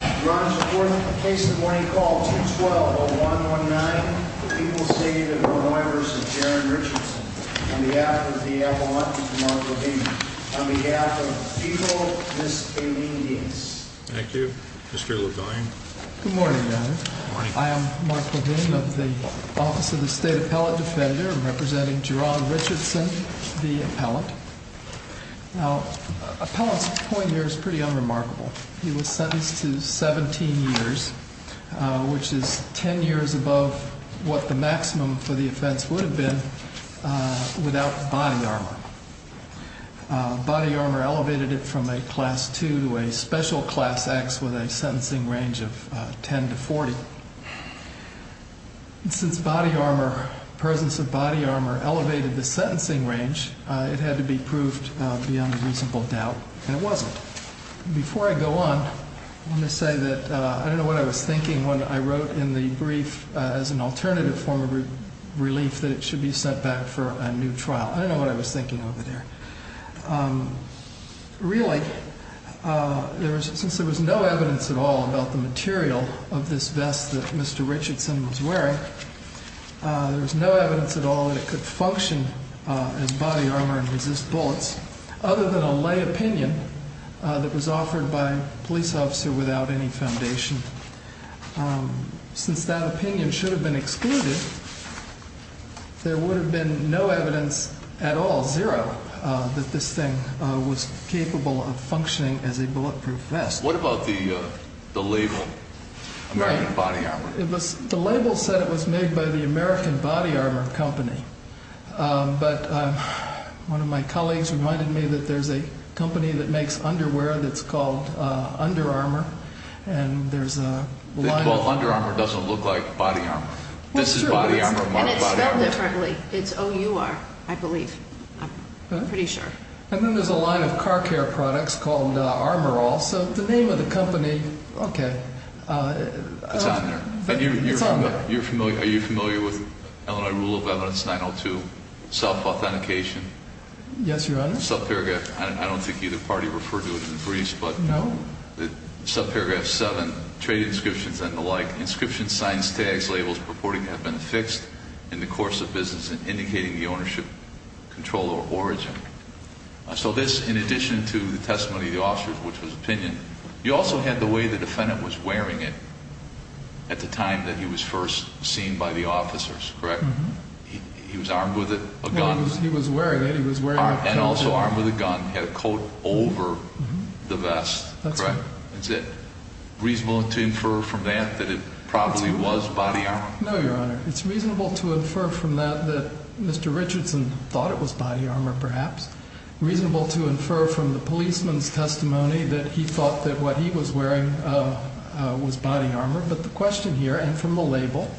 Thank you, Mr. Levine. Good morning. I am Mark Levine of the Office of the State Appellate Defender, representing Gerard Richardson, the appellant. Now, the appellant's point here is pretty unremarkable. He was sentenced to 17 years, which is 10 years above what the maximum for the offense would have been without body armor. Body armor elevated it from a Class II to a special Class X with a sentencing range of 10 to 40. Since body armor, the presence of body armor elevated the sentencing range, it had to be proved beyond a reasonable doubt, and it wasn't. Before I go on, let me say that I don't know what I was thinking when I wrote in the brief as an alternative form of relief that it should be sent back for a new trial. I don't know what I was thinking over there. Really, since there was no evidence at all about the material of this vest that Mr. Richardson was wearing, there was no evidence at all that it could function as body armor and resist bullets, other than a lay opinion that was offered by a police officer without any foundation. Since that opinion should have been excluded, there would have been no evidence at all, zero, that this thing was capable of functioning as a bulletproof vest. What about the label, American Body Armor? The label said it was made by the American Body Armor Company, but one of my colleagues reminded me that there's a company that makes underwear that's called Under Armour, and there's a line of... Well, Under Armour doesn't look like body armor. This is body armor, not body armor. And it's spelled differently. It's O-U-R, I believe. I'm pretty sure. And then there's a line of car care products called Armourall. So the name of the company... Okay. It's on there. It's on there. Are you familiar with Illinois Rule of Evidence 902, self-authentication? Yes, Your Honor. Subparagraph... I don't think either party referred to it in briefs, but... Subparagraph 7, trade inscriptions and the like. Inscriptions, signs, tags, labels purporting to have been affixed in the course of business indicating the ownership, control, or origin. So this, in addition to the testimony of the officers, which was opinion, you also had the way the defendant was wearing it at the time that he was first seen by the officers, correct? Mm-hmm. He was armed with a gun. He was wearing it. He was wearing a coat. And also armed with a gun. He had a coat over the vest, correct? That's right. Is it reasonable to infer from that that it probably was body armor? No, Your Honor. It's reasonable to infer from that that Mr. Richardson thought it was body armor, perhaps. Reasonable to infer from the policeman's testimony that he thought that what he was wearing was body armor. But the question here, and from the label,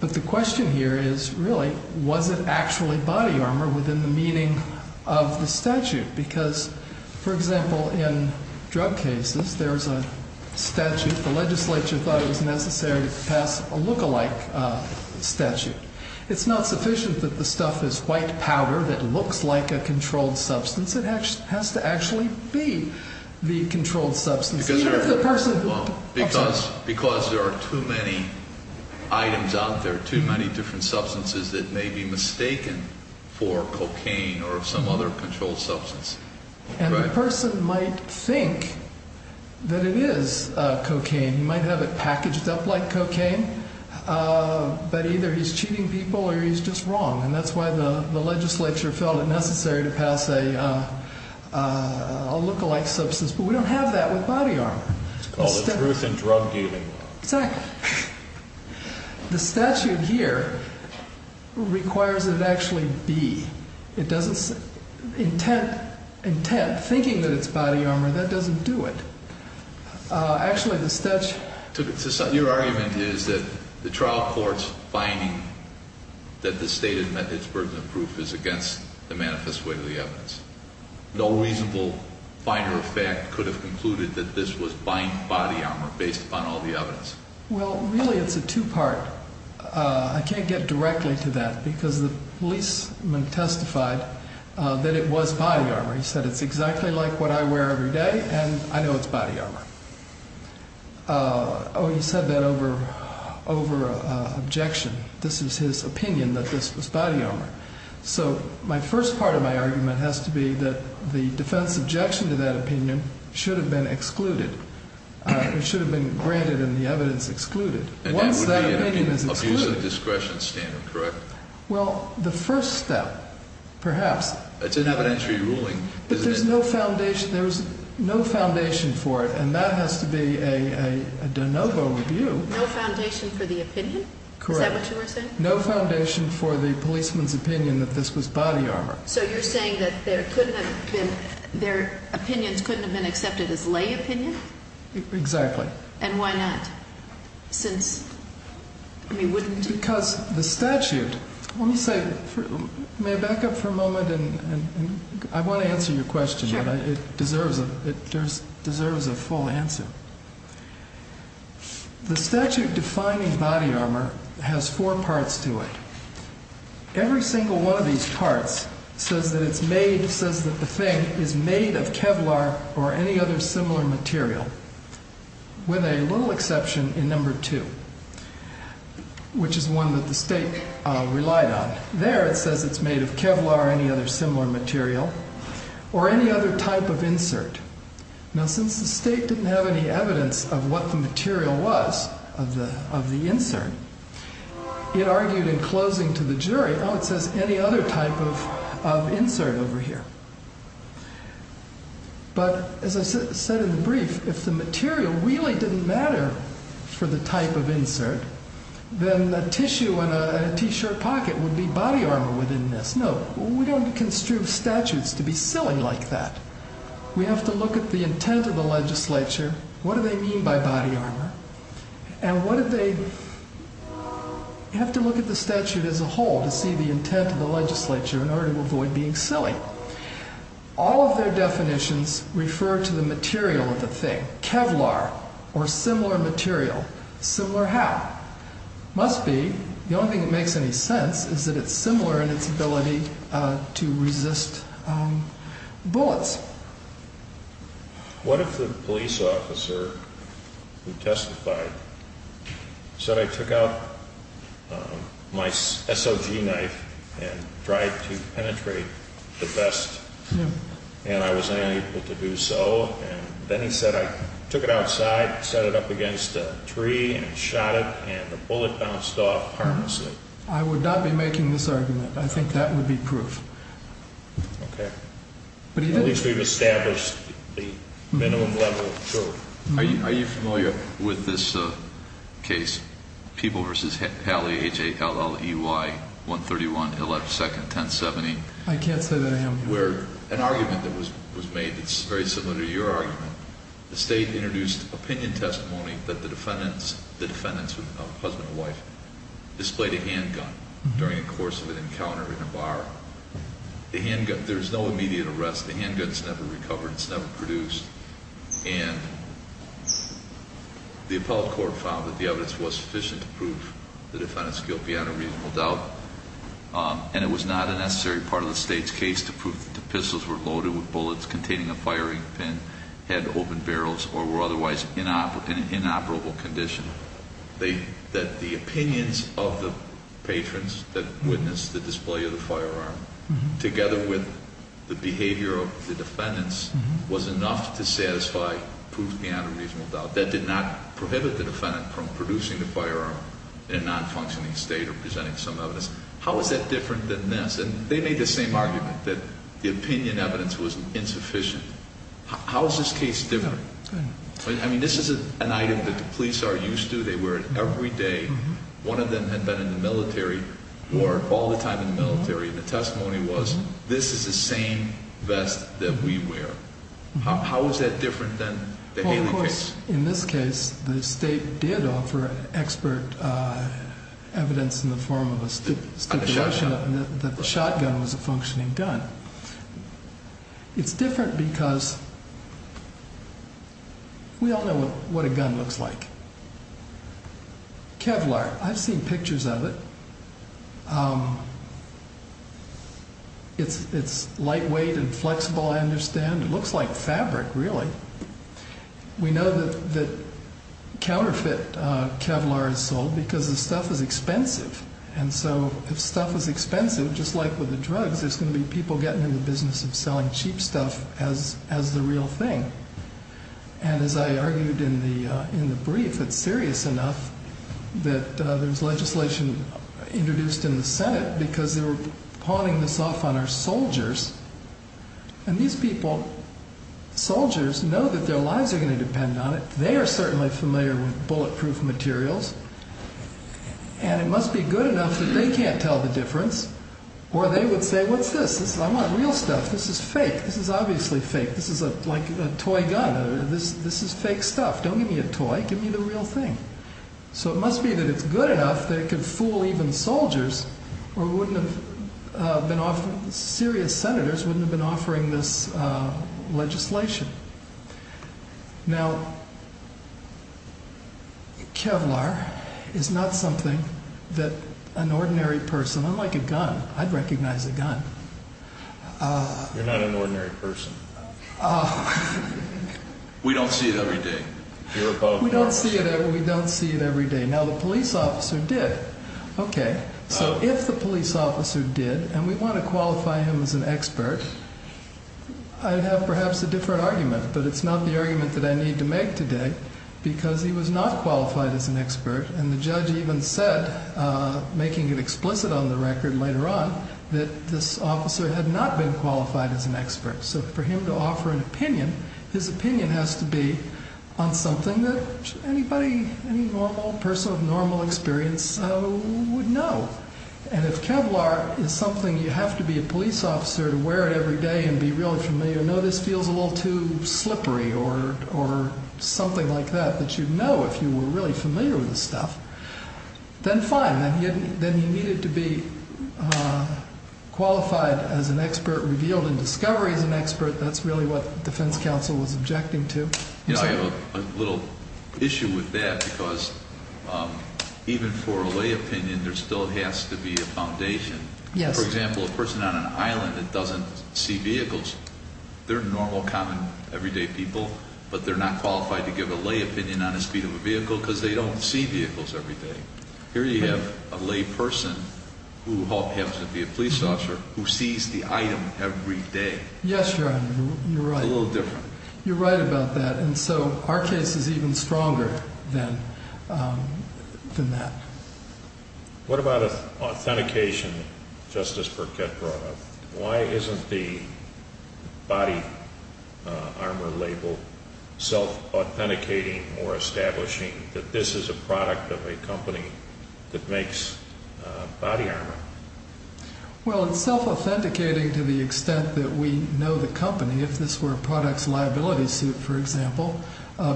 but the question here is, really, was it actually body armor within the meaning of the statute? If the legislature thought it was necessary to pass a look-alike statute, it's not sufficient that the stuff is white powder that looks like a controlled substance. It has to actually be the controlled substance. Because there are too many items out there, too many different substances that may be mistaken for cocaine or some other controlled substance. And the person might think that it is cocaine. He might have it packaged up like cocaine. But either he's cheating people or he's just wrong. And that's why the legislature felt it necessary to pass a look-alike substance. But we don't have that with body armor. It's called a truth in drug dealing. Exactly. The statute here requires that it actually be. Intent, thinking that it's body armor, that doesn't do it. Actually, the statute... Your argument is that the trial court's finding that the state had met its burden of proof is against the manifest way of the evidence. No reasonable finder of fact could have concluded that this was body armor based upon all the evidence. Well, really, it's a two-part. I can't get directly to that because the policeman testified that it was body armor. He said, it's exactly like what I wear every day and I know it's body armor. Oh, he said that over objection. This is his opinion that this was body armor. So my first part of my argument has to be that the defense objection to that opinion should have been excluded. It should have been granted and the evidence excluded. And that would be an abuse of discretion standard, correct? Well, the first step, perhaps. It's an evidentiary ruling. But there's no foundation for it and that has to be a de novo review. No foundation for the opinion? Correct. Is that what you were saying? No foundation for the policeman's opinion that this was body armor. So you're saying that their opinions couldn't have been accepted as lay opinion? Exactly. And why not? Since, I mean, wouldn't it? Because the statute, let me say, may I back up for a moment? I want to answer your question. Sure. It deserves a full answer. The statute defining body armor has four parts to it. Every single one of these parts says that it's made, says that the thing is made of Kevlar or any other similar material. With a little exception in number two, which is one that the state relied on. There it says it's made of Kevlar or any other similar material or any other type of insert. Now since the state didn't have any evidence of what the material was of the insert, it argued in closing to the jury, oh, it says any other type of insert over here. But as I said in the brief, if the material really didn't matter for the type of insert, then the tissue in a t-shirt pocket would be body armor within this. No. We don't construe statutes to be silly like that. We have to look at the intent of the legislature. What do they mean by body armor? And what do they, you have to look at the statute as a whole to see the intent of the legislature in order to avoid being silly. All of their definitions refer to the material of the thing. Kevlar or similar material, similar how? Must be, the only thing that makes any sense is that it's similar in its ability to resist bullets. What if the police officer who testified said I took out my SOG knife and tried to penetrate the vest and I was unable to do so and then he said I took it outside, set it up against a tree and shot it and the bullet bounced off harmlessly. I would not be making this argument. I think that would be proof. Okay. At least we've established the minimum level of truth. Are you familiar with this case People v. Halley, H-A-L-L-E-Y, 131, 112nd, 1070? I can't say that I am. Where an argument that was made that's very similar to your argument, the state introduced opinion testimony that the defendants, the defendants, husband and wife, displayed a handgun during the course of an encounter in a bar. The handgun, there's no immediate arrest, the handgun's never recovered, it's never produced. And the appellate court found that the evidence was sufficient to prove the defendant's guilt beyond a reasonable doubt and it was not a necessary part of the state's case to prove that the pistols were loaded with bullets containing a firing pin, had open barrels or were otherwise in an inoperable condition. That the opinions of the patrons that witnessed the display of the firearm together with the behavior of the defendants was enough to satisfy proof beyond a reasonable doubt. That did not prohibit the defendant from producing the firearm in a non-functioning state or presenting some evidence. How is that different than this? And they made the same argument that the opinion evidence was insufficient. How is this case different? I mean, this is an item that the police are used to, they wear it every day. One of them had been in the military or all the time in the military and the testimony was, this is the same vest that we wear. How is that different than the Haley case? In this case, the state did offer expert evidence in the form of a stipulation that the shotgun was a functioning gun. It's different because we all know what a gun looks like. Kevlar, I've seen pictures of it. It's lightweight and flexible, I understand. It looks like fabric, really. We know that counterfeit Kevlar is sold because the stuff is expensive. And so, if stuff is expensive, just like with the drugs, there's going to be people getting in the business of selling cheap stuff as the real thing. And as I argued in the brief, it's serious enough that there's legislation introduced in the Senate because they were pawning this off on our soldiers and these people, soldiers, know that their lives are going to depend on it. They are certainly familiar with bulletproof materials and it must be good enough that they can't tell the difference or they would say, what's this? I want real stuff. This is fake. This is obviously fake. This is like a toy gun. This is fake stuff. Don't give me a toy. Give me the real thing. So it must be that it's good enough that it could fool even soldiers or serious senators wouldn't have been offering this legislation. Now, Kevlar is not something that an ordinary person, I'm like a gun. I'd recognize a gun. You're not an ordinary person. We don't see it every day. You're above the law. We don't see it every day. Now the police officer did. So if the police officer did and we want to qualify him as an expert I'd have perhaps a different argument, but it's not the argument that I need to make today because he was not qualified as an expert and the judge even said making it explicit on the record later on, that this officer had not been qualified as an expert so for him to offer an opinion his opinion has to be on something that any normal person of normal experience would know and if Kevlar is something you have to be a police officer to wear it every day and be really familiar no this feels a little too slippery or something like that that you'd know if you were really familiar with this stuff, then fine then he needed to be qualified as an expert, revealed in discovery as an expert, that's really what the defense council was objecting to. I have a little issue with that because even for a lay opinion there still has to be a foundation for example, a person on an island that doesn't see vehicles they're normal, common, everyday people, but they're not qualified to give a lay opinion on the speed of a vehicle because they don't see vehicles every day here you have a lay person who happens to be a police officer who sees the item every day. Yes, your honor, you're right it's a little different. You're right about that and so our case is even stronger than that What about authentication Justice Burkett brought up why isn't the body armor label self-authenticating or establishing that this is a product of a company that makes body armor Well it's self-authenticating to the extent that we know the company, if this were a products liability suit for example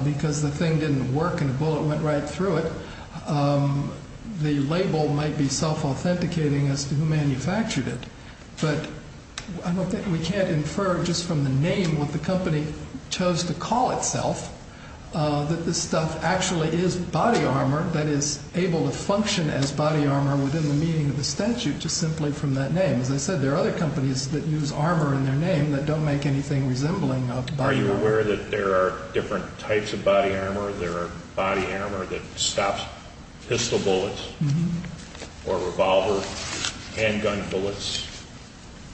because the thing didn't work and a bullet went right through it the label might be self-authenticating as to who manufactured it, but I don't think we can't infer just from the name what the company chose to call itself that this stuff actually is body armor that is able to function as body armor within the meaning of the statute just simply from that name as I said there are other companies that use armor in their name that don't make anything resembling Are you aware that there are different types of body armor there are body armor that stops pistol bullets or revolver handgun bullets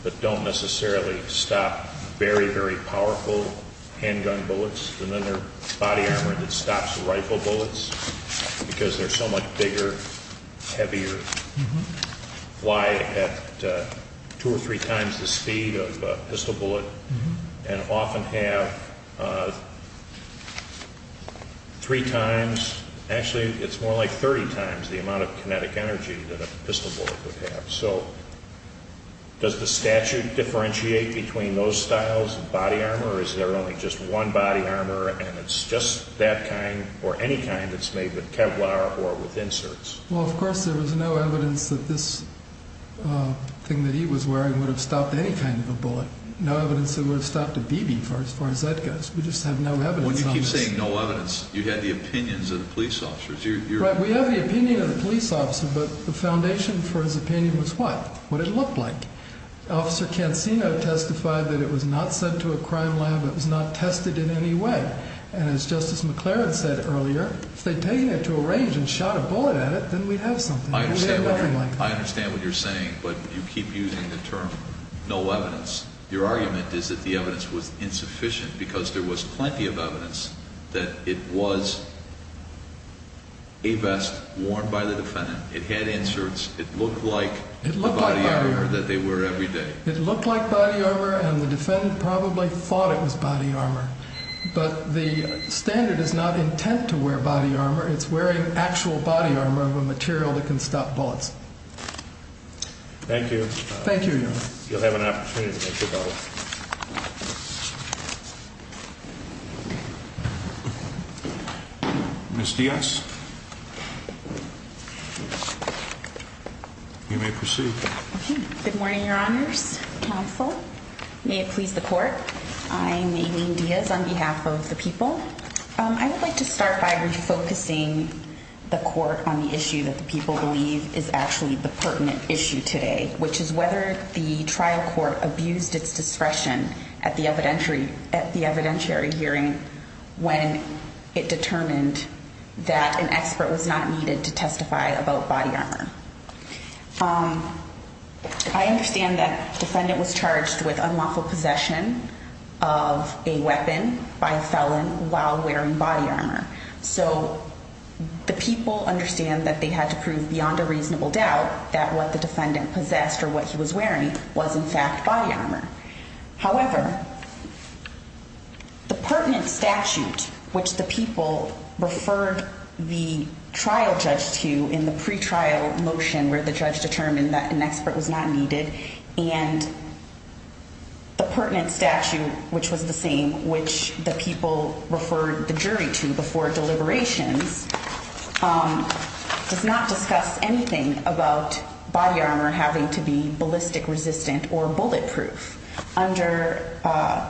that don't necessarily stop very very powerful handgun bullets and then there's body armor that stops rifle bullets because they're so much bigger heavier fly at two or three times the speed of a pistol bullet and often have three times actually it's more like thirty times the amount of kinetic energy that a pistol bullet would have so does the statute differentiate between those styles of body armor or is there only just one body armor and it's just that kind or any kind that's made with Kevlar or with inserts Well of course there was no evidence that this thing that he was wearing would have stopped any kind of a bullet no evidence that it would have stopped a BB as far as that goes When you keep saying no evidence you have the opinions of the police officers Right we have the opinion of the police officer but the foundation for his opinion was what what it looked like Officer Cancino testified that it was not sent to a crime lab it was not tested in any way and as Justice McClaren said earlier if they'd taken it to a range and shot a bullet at it then we'd have something I understand what you're saying but you keep using the term no evidence, your argument is that the evidence was insufficient because there was plenty of evidence that it was a vest worn by the defendant, it had inserts it looked like the body armor that they wear every day It looked like body armor and the defendant probably thought it was body armor but the standard is not intent to wear body armor, it's wearing actual body armor of a material that can stop bullets Thank you Thank you Your Honor You'll have an opportunity to make your vote Ms. Diaz You may proceed Good morning Your Honors, Counsel May it please the court I'm Aileen Diaz on behalf of the people I would like to start by focusing the court on the issue that the people believe is actually the pertinent issue today which is whether the trial court abused its discretion at the evidentiary hearing when it determined that an expert was not needed to testify about body armor I understand that the defendant was charged with unlawful possession of a weapon by a felon while wearing body armor so the people understand that they had to prove beyond a reasonable doubt that what the defendant possessed or what he was wearing was in fact body armor however the pertinent statute which the people referred the trial judge to in the pre-trial motion where the judge determined that an expert was not needed and the pertinent statute which was the same which the people referred the jury to before deliberations does not discuss anything about body armor having to be ballistic resistant or bulletproof under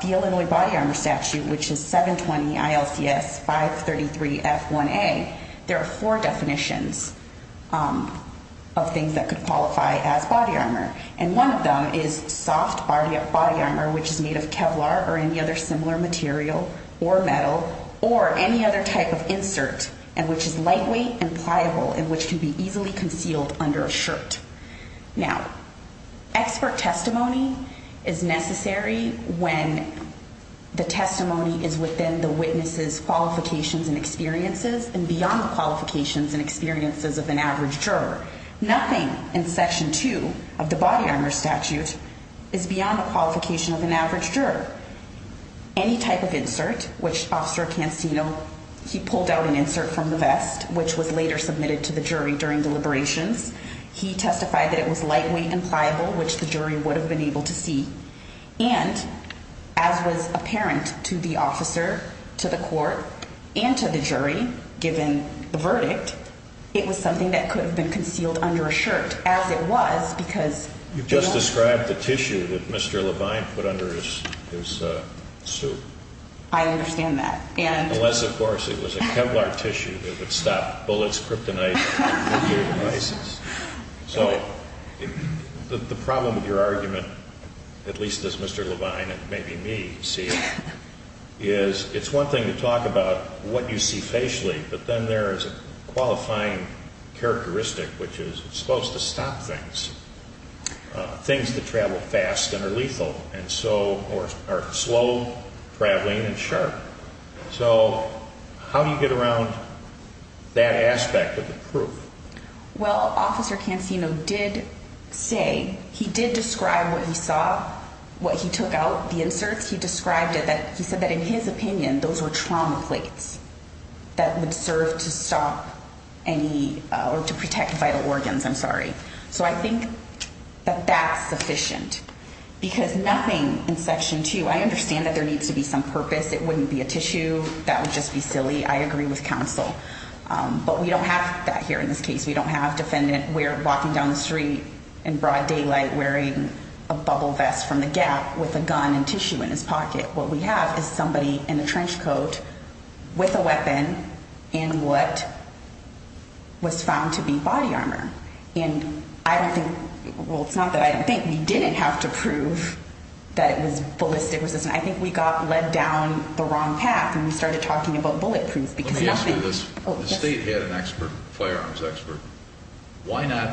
the Illinois body armor statute which is 720 ILCS 533 F1A there are four definitions of things that could qualify as body armor and one of them is soft body armor which is made of Kevlar or any other similar material or metal or any other type of insert and which is lightweight and pliable and which can be easily concealed under a shirt now expert testimony is necessary when the testimony is within the witnesses qualifications and experiences and beyond the qualifications and experiences of an average juror nothing in section 2 of the body armor statute is beyond the qualification of an average juror any type of insert which officer Cancino he pulled out an insert from the vest which was later submitted to the jury during deliberations he testified that it was lightweight and pliable which the jury would have been able to see and as was apparent to the officer, to the court and to the jury given the verdict it was something that could have been concealed under a shirt as it was because you just described the tissue that Mr. Levine put under his suit I understand that unless of course it was a Kevlar tissue that would stop bullets, kryptonite nuclear devices so the problem with your argument at least as Mr. Levine and maybe me see it is it's one thing to talk about what you see facially but then there is a qualifying characteristic which is it's supposed to stop things things that travel fast and are lethal are slow traveling and sharp so how do you get around that aspect of the proof well officer Cancino did say, he did describe what he saw what he took out, the inserts he described it, he said that in his opinion those were trauma plates that would serve to stop any, or to protect vital organs, I'm sorry so I think that that's sufficient because nothing in section 2, I understand that there needs to be some purpose, it wouldn't be a tissue that would just be silly, I agree with counsel, but we don't have that here in this case, we don't have defendant walking down the street in broad daylight wearing a bubble vest from the gap with a gun and tissue in his pocket, what we have is somebody in a trench coat with a weapon in what was found to be body armor and I don't think, well it's not that I don't think we didn't have to prove that it was ballistic resistance, I think we got led down the wrong path and we started talking about bullet proof because nothing let me ask you this, the state had an expert firearms expert, why not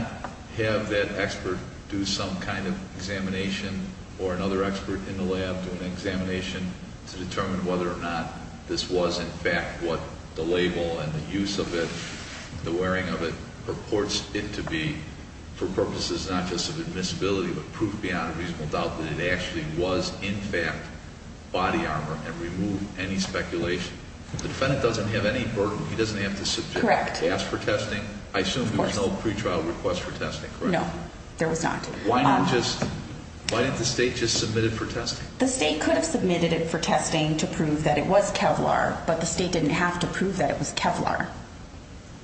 have that expert do some kind of examination or another expert in the lab do an examination to determine whether or not this was in fact what the label and the use of it the wearing of it purports it to be for purposes not just of admissibility but proof beyond a reasonable doubt that it actually was in fact body armor and remove any speculation the defendant doesn't have any burden he doesn't have to subject, correct, to ask for testing I assume there was no pre-trial request for testing, no, there was not why not just, why didn't the state just submit it for testing, the state could have submitted it for testing to prove that it was Kevlar but the state didn't have to prove that it was Kevlar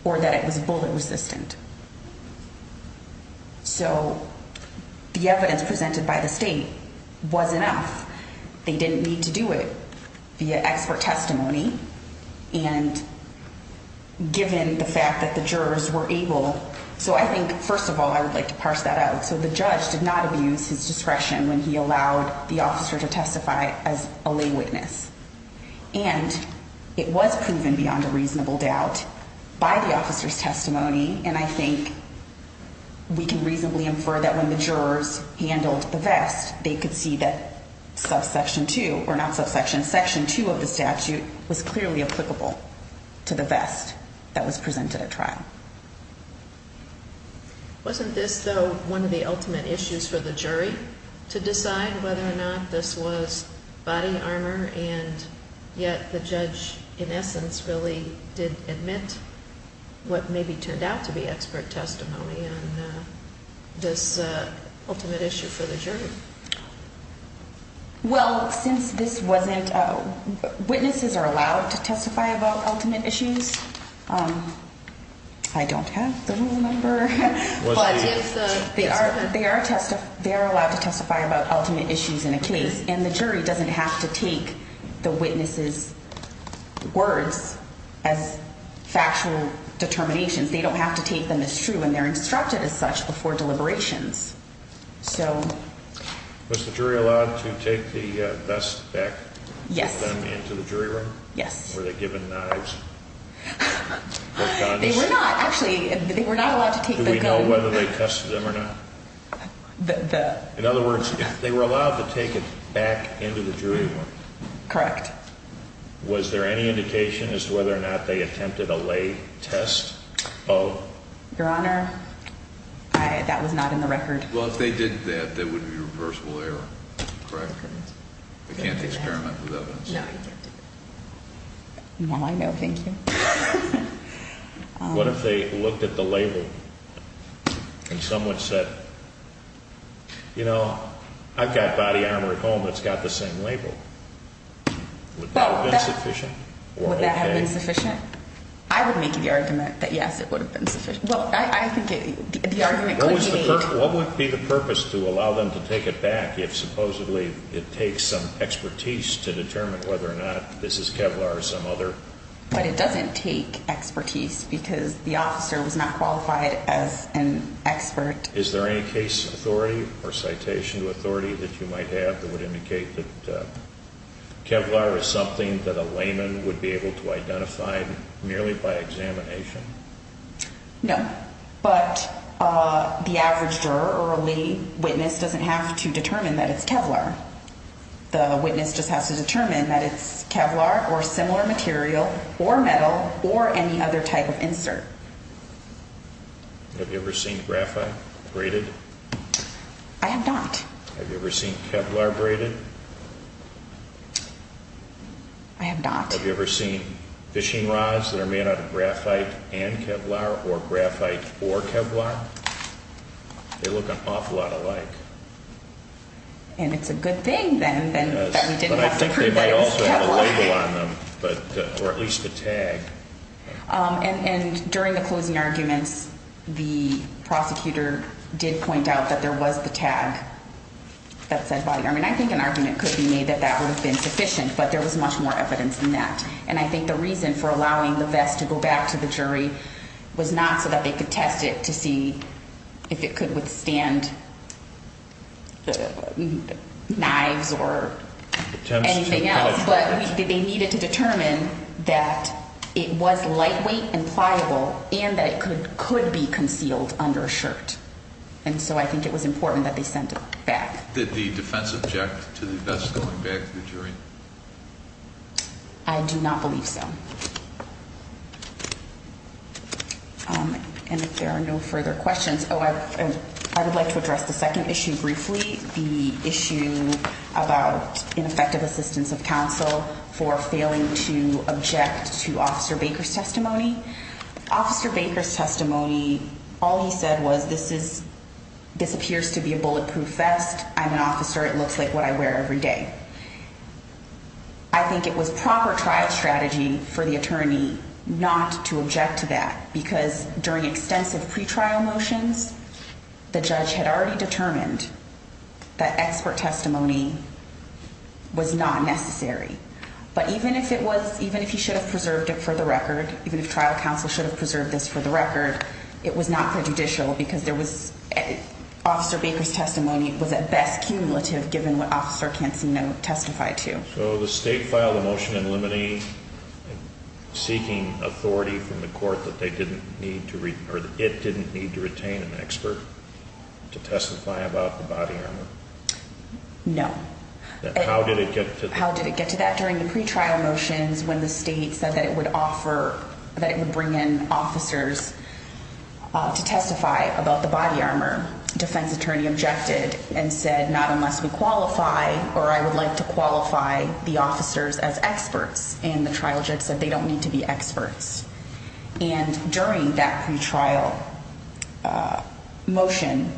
or that it was bullet resistant so the evidence presented by the state was enough they didn't need to do it via expert testimony and given the fact that the jurors were able, so I think first of all I would like to parse that out so the judge did not abuse his discretion when he allowed the officer to testify as a lay witness and it was proven beyond a reasonable doubt by the officer's testimony and I think we can reasonably infer that when the jurors handled the vest they could see that subsection 2, or not subsection, section 2 of the statute was clearly applicable to the vest that was presented at trial Wasn't this though one of the ultimate issues for the jury to decide whether or not this was body armor and yet the judge in essence really did admit what maybe turned out to be expert testimony on this ultimate issue for the jury Well since this wasn't witnesses are allowed to testify about ultimate issues I don't have the rule number but they are allowed to testify about ultimate issues in a case and the jury doesn't have to take the witnesses words as factual determinations, they don't have to take them as true and they're instructed as such before deliberations so Was the jury allowed to take the vest back into the jury room? Yes Were they given knives? They were not actually, they were not allowed to take the gun Do we know whether they tested them or not? In other words if they were allowed to take it back into the jury room? Correct Was there any indication as to whether or not they attempted a lay test of? Your honor that was not in the record. Well if they did that that would be reversible error We can't experiment with evidence Well I know thank you What if they looked at the label and someone said you know, I've got body armor at home that's got the same label Would that have been sufficient? Would that have been sufficient? I would make the argument that yes it would have been sufficient What would be the purpose to allow them to take it back if supposedly it takes some whether or not this is Kevlar or some other But it doesn't take expertise because the officer was not qualified as an expert Is there any case authority or citation authority that you might have that would indicate that Kevlar is something that a layman would be able to identify merely by examination? No but the average juror or a lay witness doesn't have to determine that it's Kevlar The witness just has to determine that it's Kevlar or similar material or metal or any other type of insert Have you ever seen graphite braided? I have not Have you ever seen Kevlar braided? I have not Have you ever seen fishing rods that are made out of graphite and Kevlar or graphite or Kevlar? They look an awful lot alike and it's a good thing then that we didn't have to prove that it was Kevlar or at least a tag and during the closing arguments the prosecutor did point out that there was the tag that said body armor and I think an argument could be made that that would have been sufficient but there was much more evidence than that and I think the reason for allowing the vest to go back to the jury was not so that they could test it to see if it could withstand knives or anything else but they needed to determine that it was lightweight and pliable and that it could be concealed under a shirt and so I think it was important that they sent it back Did the defense object to the vest going back to the jury? I do not believe so If there are no further questions I would like to address the second issue briefly the issue about ineffective assistance of counsel for failing to object to Officer Baker's testimony Officer Baker's testimony all he said was this appears to be a bulletproof vest I'm an officer it looks like what I wear every day I think it was proper trial strategy for the attorney not to object to that because during extensive pre-trial motions the judge had already determined that expert testimony was not necessary but even if it was even if he should have preserved it for the record even if trial counsel should have preserved this for the record it was not prejudicial because there was Officer Baker's testimony was at best cumulative given what Officer Cancino testified to So the state filed a motion to eliminate seeking authority from the court that it didn't need to retain an expert to testify about the body armor No How did it get to that? During the pre-trial motions when the state said that it would bring in officers to testify about the body armor defense attorney objected and said not unless we qualify or I would like to qualify the officers as experts and the trial judge said they don't need to be experts and during that pre-trial motion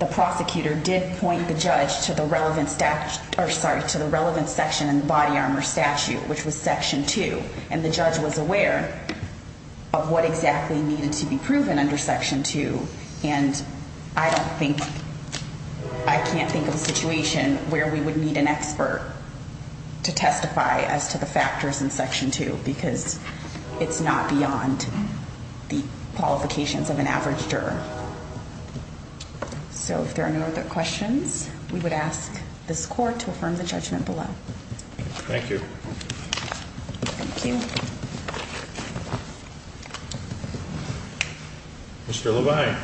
the prosecutor did point the judge to the relevant section in the body armor statute which was section 2 and the judge was aware of what exactly needed to be proven under section 2 and I don't think I can't think of a situation where we would need an expert to testify as to the factors in section 2 because it's not beyond the qualifications of an average juror So if there are no other questions we would ask this court to affirm the judgment below Thank you Thank you Mr. Levine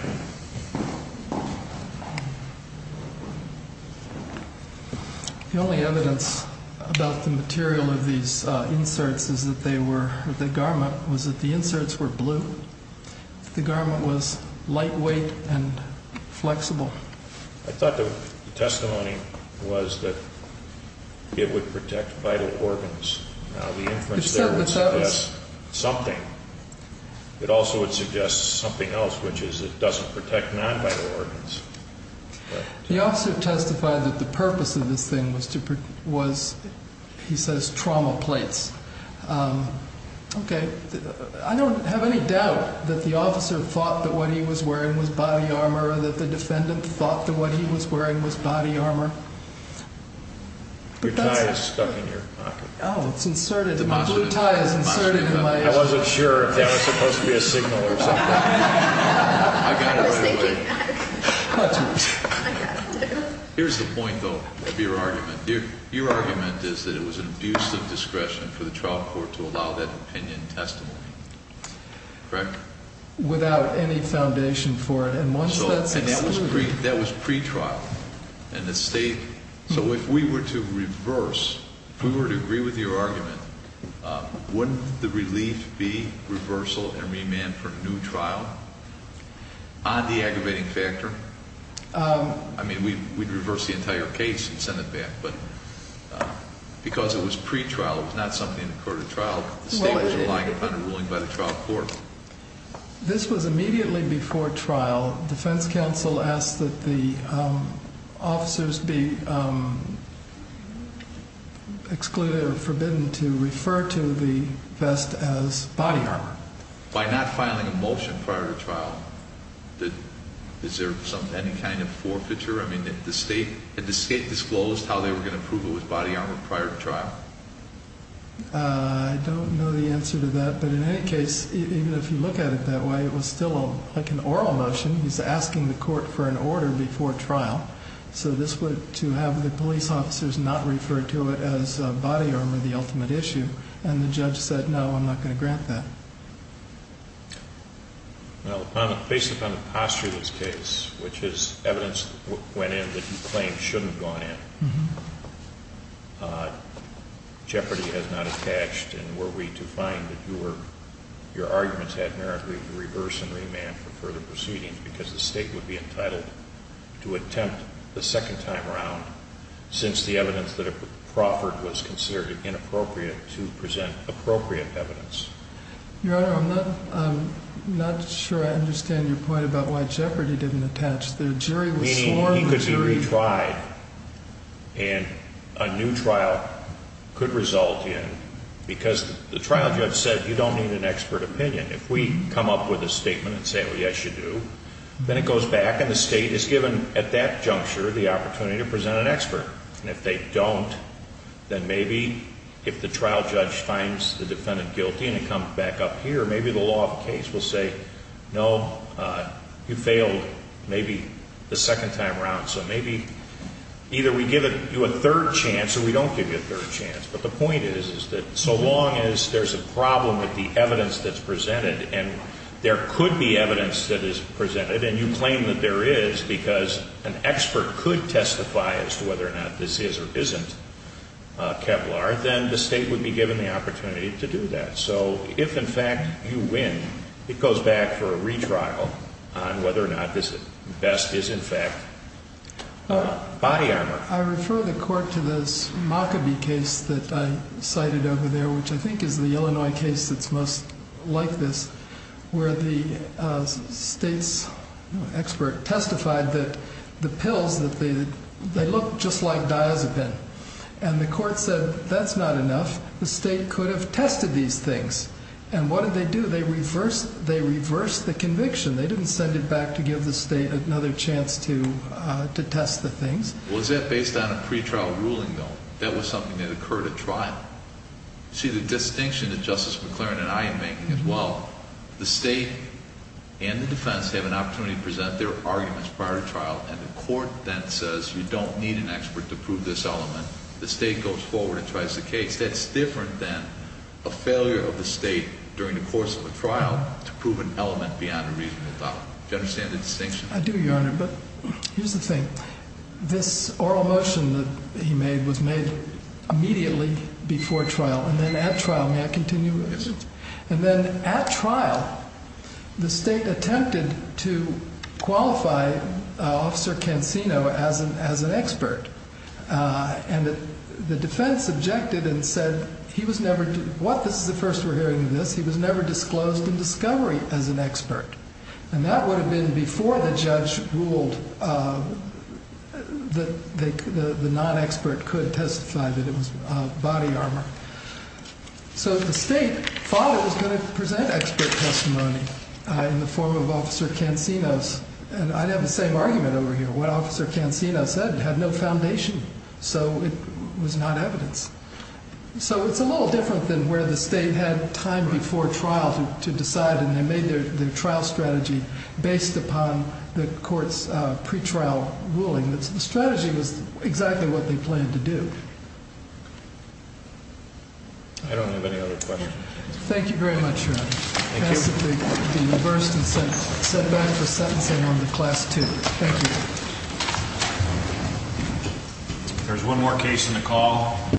The only evidence about the material of these inserts was that the inserts were blue The garment was lightweight and flexible I thought the testimony was that it would protect vital organs Now the inference there would suggest something It also would suggest something else which is it doesn't protect non-vital organs The officer testified that the purpose of this thing was he says trauma plates Okay I don't have any doubt that the officer thought that what he was wearing was body armor or that the defendant thought that what he was wearing was body armor Your tie is stuck in your pocket Oh, it's inserted I wasn't sure if that was supposed to be a signal or something I got it right away Here's the point though of your argument Your argument is that it was an abuse of discretion for the trial court to allow that opinion testimony Correct? Without any foundation for it That was pre-trial and it stayed So if we were to reverse if we were to agree with your argument wouldn't the relief be reversal and remand for a new trial on the aggravating factor I mean we'd reverse the entire case and send it back but because it was pre-trial it was not something that occurred at trial The state was relying upon a ruling by the trial court This was immediately before trial Defense counsel asked that the officers be excluded or forbidden to refer to the vest as body armor By not filing a motion prior to trial is there any kind of forfeiture? Had the state disclosed how they were going to prove it was body armor prior to trial? I don't know the answer to that but in any case even if you look at it that way it was still like an oral motion he's asking the court for an order before trial so to have the police officers not refer to it as body armor and the judge said no I'm not going to grant that Based upon the posture of this case which is evidence went in that you claim shouldn't have gone in Jeopardy has not attached and were we to find that your arguments had merit to reverse and remand for further proceedings because the state would be entitled to attempt the second time around since the evidence that it appropriate evidence Your honor I'm not sure I understand your point about why Jeopardy didn't attach Meaning he could be retried and a new trial could result in because the trial judge said you don't need an expert opinion if we come up with a statement and say yes you do then it goes back and the state is given at that juncture the opportunity to present an expert and if they don't then maybe if the trial judge finds the defendant guilty and it comes back up here maybe the law of the case will say no you failed maybe the second time around so maybe either we give you a third chance or we don't give you a third chance but the point is so long as there's a problem with the evidence that's presented there could be evidence that is presented and you claim that there is because an expert could testify as to whether or not this is or isn't Kevlar then the state would be given the opportunity to do that so if in fact you win it goes back for a retrial on whether or not this best is in fact body armor. I refer the court to this Mockaby case that I cited over there which I think is the Illinois case that's most like this where the state's expert testified that the pills they look just like diazepam and the court said that's not enough the state could have tested these things and what did they do? They reversed the conviction they didn't send it back to give the state another chance to test the things Was that based on a pre-trial ruling though? That was something that occurred at trial See the distinction that Justice McLaren and I am making as well the state and the defense have an opportunity to present their arguments prior to trial and the court then says you don't need an expert to prove this element. The state goes forward and tries the case. That's different than a failure of the state during the course of a trial to prove an element beyond a reasonable doubt. Do you understand the distinction? I do your honor but here's the thing. This oral motion that he made was made immediately before trial and then at trial. May I continue? Yes. And then at trial the state attempted to qualify officer Cancino as an expert and the defense objected and said he was never this is the first we're hearing of this he was never disclosed in discovery as an expert and that would have been before the judge ruled that the non-expert could testify that it was body armor so the state thought it was going to present expert testimony in the form of officer Cancino's and I'd have the same argument over here. What officer Cancino said had no foundation so it was not evidence so it's a little different than where the state had time before trial to decide and they made their trial strategy based upon the court's pretrial ruling. The strategy was exactly what they planned to do I don't have any other questions Thank you very much your honor I ask that they be reversed and sent back for sentencing on to class 2 Thank you There's one more case in the call